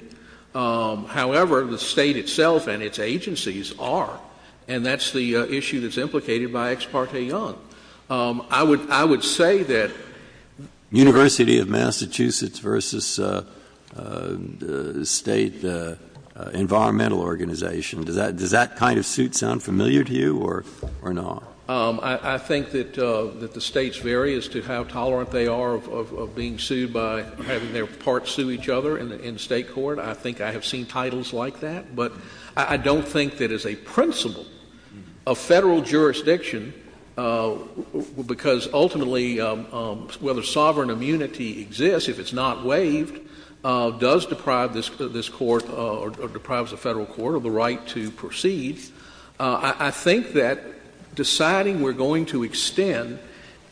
However, the State itself and its agencies are. And that's the issue that's implicated by Ex parte Young. I would say that University of Massachusetts v. State Environmental Organization. Does that kind of suit sound familiar to you or not? I think that the States vary as to how tolerant they are of being sued by having their parts sue each other in State court. I think I have seen titles like that. But I don't think that as a principle of Federal jurisdiction, because ultimately whether sovereign immunity exists, if it's not waived, does deprive this Court or deprives the Federal Court of the right to proceed. I think that deciding we are going to extend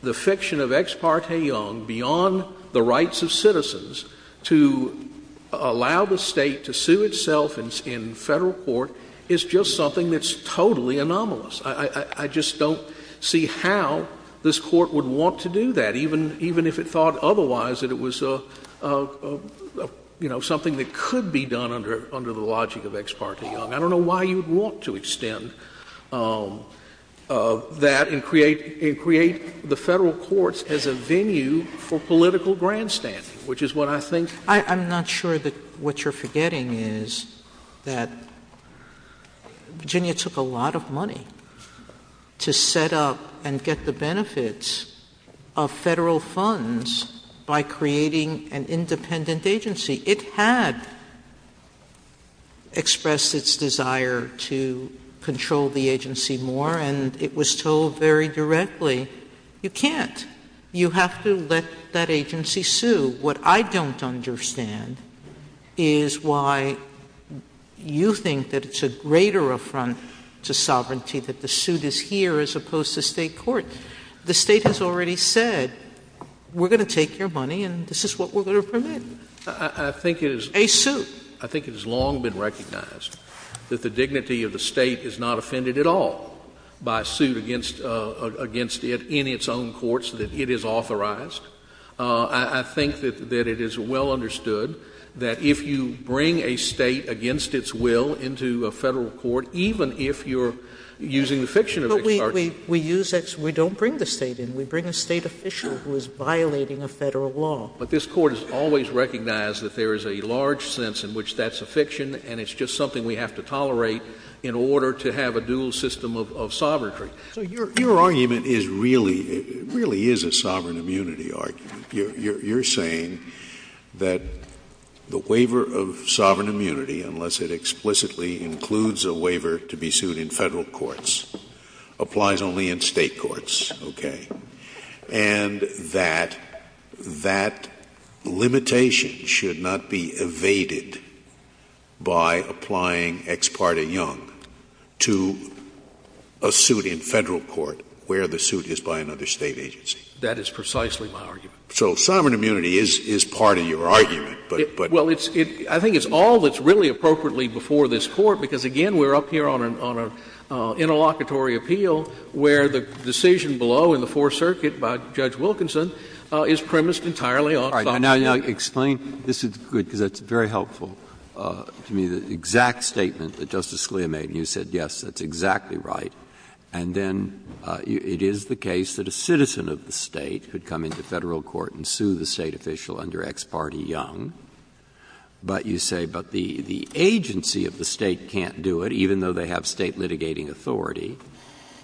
the fiction of Ex parte Young beyond the rights of citizens to allow the State to sue itself in Federal court is just something that's totally anomalous. I just don't see how this Court would want to do that, even if it thought otherwise that it was something that could be done under the logic of Ex parte Young. I don't know why you would want to extend that and create the Federal courts as a venue for political grandstanding, which is what I think. I'm not sure that what you are forgetting is that Virginia took a lot of money to set up and get the benefits of Federal funds by creating an independent agency. It had expressed its desire to control the agency more, and it was told very directly, you can't. You have to let that agency sue. What I don't understand is why you think that it's a greater affront to sovereignty that the suit is here as opposed to State court. The State has already said we are going to take your money and this is what we are going to permit. A suit. I think it has long been recognized that the dignity of the State is not offended at all by a suit against it in its own courts that it has authorized. I think that it is well understood that if you bring a State against its will into a case, you are using the fiction of extortion. Sotomayor. We don't bring the State in. We bring a State official who is violating a Federal law. But this Court has always recognized that there is a large sense in which that's a fiction and it's just something we have to tolerate in order to have a dual system of sovereignty. So your argument is really, really is a sovereign immunity argument. You are saying that the waiver of sovereign immunity, unless it explicitly includes a waiver to be sued in Federal courts, applies only in State courts, okay, and that that limitation should not be evaded by applying ex parte young to a suit in Federal court where the suit is by another State agency. That is precisely my argument. So sovereign immunity is part of your argument, but. Well, it's, I think it's all that's really appropriately before this Court, because, again, we are up here on an interlocutory appeal where the decision below in the Fourth Circuit by Judge Wilkinson is premised entirely on sovereign immunity. Now, explain, this is good because it's very helpful to me, the exact statement that Justice Scalia made and you said, yes, that's exactly right, and then it is the case that a citizen of the State could come into Federal court and sue the State official under ex parte young, but you say, but the agency of the State can't do it, even though they have State litigating authority,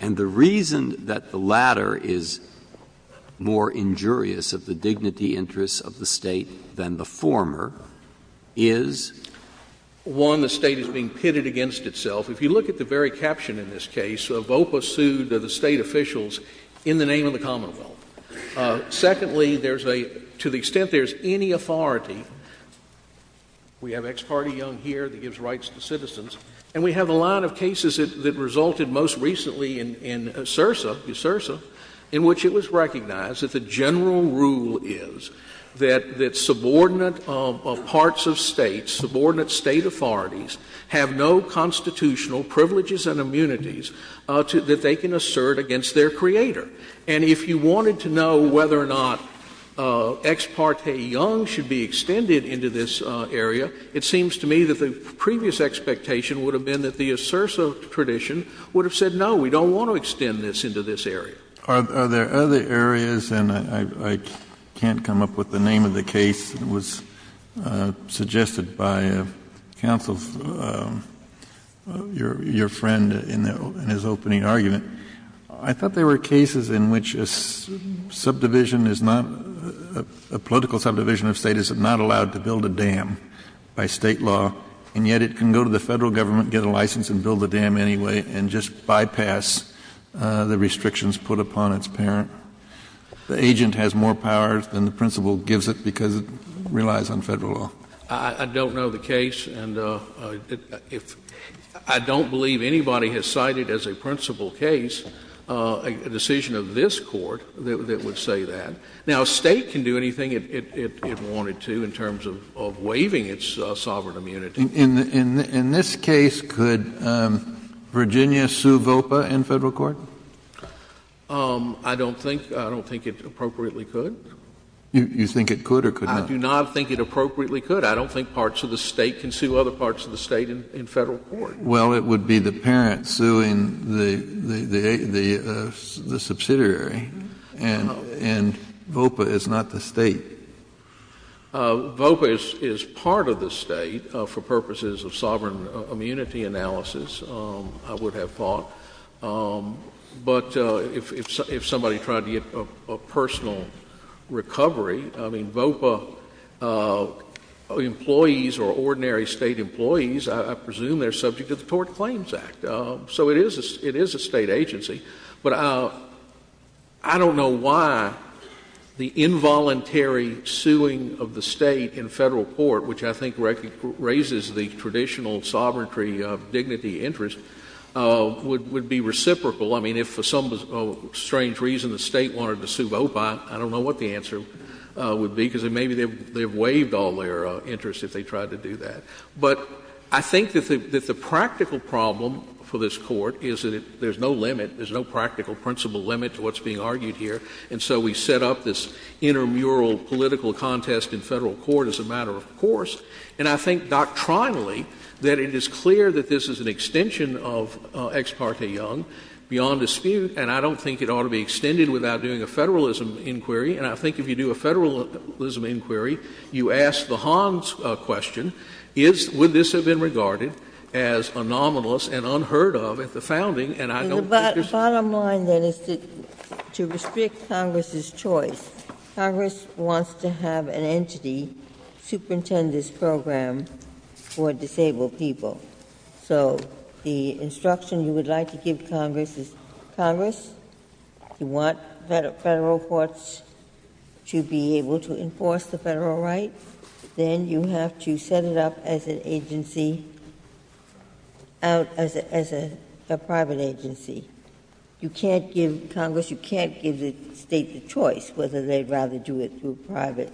and the reason that the latter is more injurious of the dignity interests of the State than the former is? One, the State is being pitted against itself. If you look at the very caption in this case, Avopa sued the State officials in the name of the Commonwealth. Secondly, there's a, to the extent there's any authority, we have ex parte young here that gives rights to citizens, and we have a lot of cases that resulted most recently in CIRSA, in which it was recognized that the general rule is that subordinate parts of States, subordinate State authorities have no constitutional privileges and immunities that they can assert against their creator. And if you wanted to know whether or not ex parte young should be extended into this area, it seems to me that the previous expectation would have been that the ASERSA tradition would have said, no, we don't want to extend this into this area. Kennedy, are there other areas, and I can't come up with the name of the case that was suggested by counsel, your friend, in his opening argument. I thought there were cases in which a subdivision is not, a political subdivision of State is not allowed to build a dam by State law, and yet it can go to the Federal Government, get a license and build a dam anyway, and just bypass the restrictions put upon its parent. The agent has more power than the principal gives it because it relies on Federal law. I don't know the case, and if — I don't believe anybody has cited as a principal case a decision of this Court that would say that. Now, State can do anything it wanted to in terms of waiving its sovereign immunity. In this case, could Virginia sue VOPA in Federal court? I don't think — I don't think it appropriately could. You think it could or could not? I do not think it appropriately could. I don't think parts of the State can sue other parts of the State in Federal court. Well, it would be the parent suing the subsidiary, and VOPA is not the State. VOPA is part of the State for purposes of sovereign immunity analysis, I would have thought. But if somebody tried to get a personal recovery, I mean, VOPA employees or ordinary State employees, I presume they're subject to the Tort Claims Act. So it is a State agency. But I don't know why the involuntary suing of the State in Federal court, which I think raises the traditional sovereignty of dignity interest, would be reciprocal. I mean, if for some strange reason the State wanted to sue VOPA, I don't know what the answer would be, because maybe they've waived all their interest if they tried to do that. But I think that the practical problem for this Court is that there's no limit, there's no practical principle limit to what's being argued here. And so we set up this intramural political contest in Federal court as a matter of fact. And I think doctrinally that it is clear that this is an extension of Ex parte Young beyond dispute, and I don't think it ought to be extended without doing a Federalism inquiry. And I think if you do a Federalism inquiry, you ask the Hans question, is — would this have been regarded as a nominalist and unheard of at the founding, and I don't think there's — The bottom line, then, is to restrict Congress's choice. Congress wants to have an entity superintend this program for disabled people. So the instruction you would like to give Congress is, Congress, you want Federal courts to be able to enforce the Federal right, then you have to set it up as an agency, out as a private agency. You can't give Congress, you can't give the State the choice whether they'd rather do it through private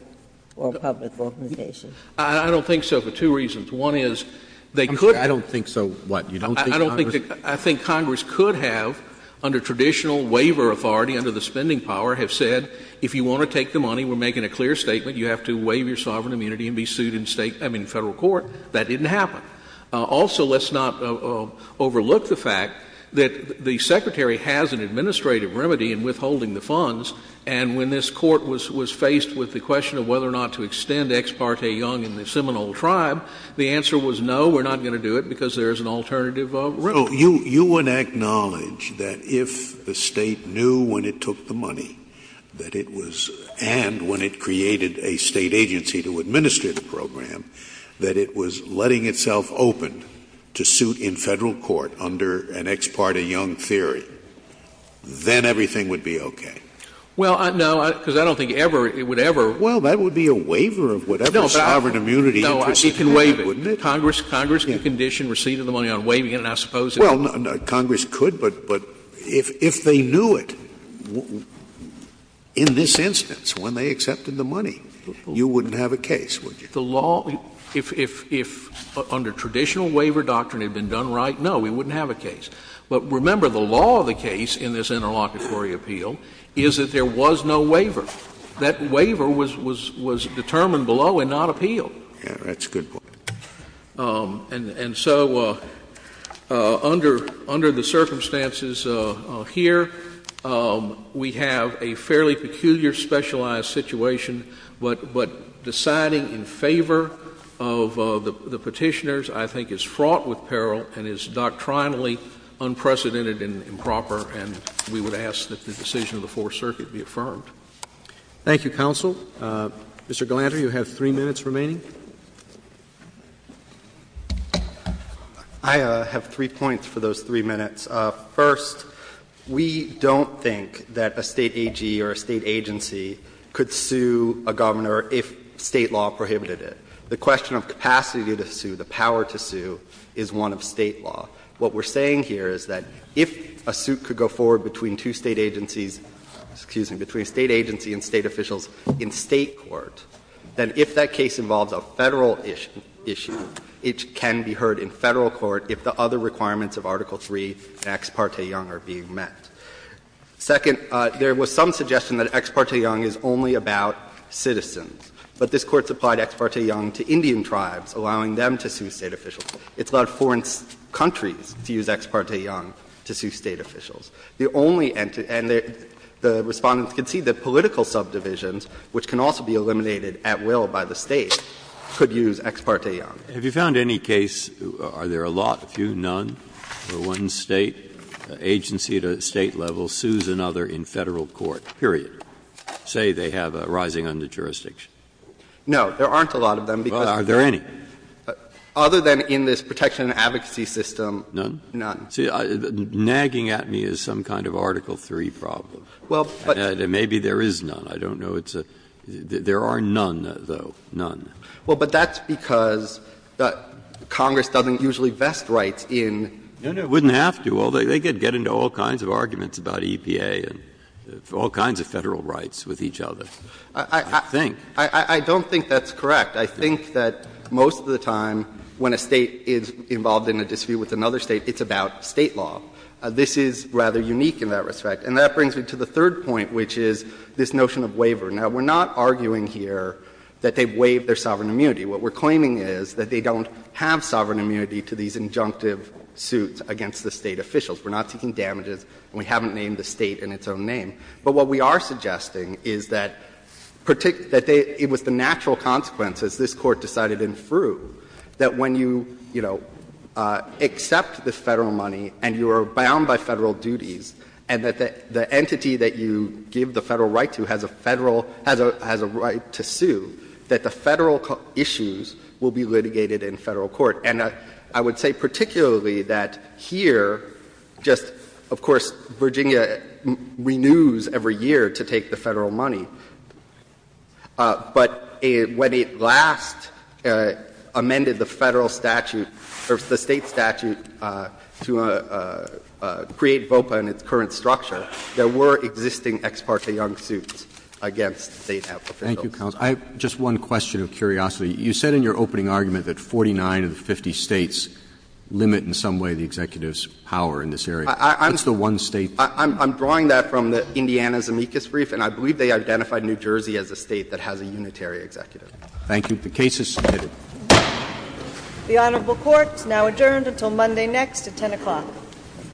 or public organizations. I don't think so, for two reasons. One is, they could— I'm sorry, I don't think so what? You don't think Congress— I don't think — I think Congress could have, under traditional waiver authority, under the spending power, have said, if you want to take the money, we're making a clear statement, you have to waive your sovereign immunity and be sued in State — I mean, Federal court. That didn't happen. Also, let's not overlook the fact that the Secretary has an administrative remedy in withholding the funds, and when this Court was faced with the question of whether or not to extend Ex parte Young in the Seminole Tribe, the answer was no, we're not going to do it because there is an alternative remedy. Scalia, you would acknowledge that if the State knew when it took the money, that it was — and when it created a State agency to administer the program, that it was letting itself open to suit in Federal court under an Ex parte Young theory, then everything would be okay? Well, no, because I don't think ever it would ever— Well, that would be a waiver of whatever sovereign immunity interest— No, it can waive it. Congress could condition receipt of the money on waiving it, and I suppose— Well, Congress could, but if they knew it in this instance, when they accepted the money, you wouldn't have a case, would you? The law — if under traditional waiver doctrine it had been done right, no, we wouldn't have a case. But remember, the law of the case in this interlocutory appeal is that there was no waiver. That waiver was determined below and not appealed. Yes, that's a good point. And so under the circumstances here, we have a fairly peculiar specialized situation, but deciding in favor of the Petitioners I think is fraught with peril and is doctrinally unprecedented and improper, and we would ask that the decision of the Fourth Circuit be affirmed. Thank you, counsel. Mr. Galanter, you have three minutes remaining. I have three points for those three minutes. First, we don't think that a State AG or a State agency could sue a governor if State law prohibited it. The question of capacity to sue, the power to sue, is one of State law. What we are saying here is that if a suit could go forward between two State agencies — excuse me, between State agency and State officials in State court, then if that case involves a Federal issue, it can be heard in Federal court if the other requirements of Article III and Ex parte Young are being met. Second, there was some suggestion that Ex parte Young is only about citizens. But this Court supplied Ex parte Young to Indian tribes, allowing them to sue State officials. It's allowed foreign countries to use Ex parte Young to sue State officials. The only entity — and the Respondents concede that political subdivisions, which can also be eliminated at will by the State, could use Ex parte Young. Breyer, have you found any case, are there a lot, a few, none, where one State agency at a State level sues another in Federal court, period, say they have a rising under jurisdiction? No, there aren't a lot of them, because other than in this protection and advocacy system, none. None? See, nagging at me is some kind of Article III problem. Maybe there is none. I don't know. There are none, though, none. Well, but that's because Congress doesn't usually vest rights in. No, no, it wouldn't have to. They could get into all kinds of arguments about EPA and all kinds of Federal rights with each other, I think. I don't think that's correct. I think that most of the time when a State is involved in a dispute with another State, it's about State law. This is rather unique in that respect. And that brings me to the third point, which is this notion of waiver. Now, we are not arguing here that they waive their sovereign immunity. What we are claiming is that they don't have sovereign immunity to these injunctive suits against the State officials. We are not seeking damages, and we haven't named the State in its own name. But what we are suggesting is that it was the natural consequence, as this Court decided in Frueh, that when you, you know, accept the Federal money and you are bound by Federal duties, and that the entity that you give the Federal right to has a Federal — has a right to sue, that the Federal issues will be litigated in Federal court. And I would say particularly that here, just — of course, Virginia renews every year to take the Federal money. But when it last amended the Federal statute, or the State statute, to create VOPA in its current structure, there were existing ex parte young suits against State officials. Roberts. Roberts. I have just one question of curiosity. You said in your opening argument that 49 of the 50 States limit in some way the executive's power in this area. What's the one State? I'm drawing that from the Indiana Zemeckis brief, and I believe they identified New Jersey as a State that has a unitary executive. Thank you. The case is submitted. The Honorable Court is now adjourned until Monday next at 10 o'clock.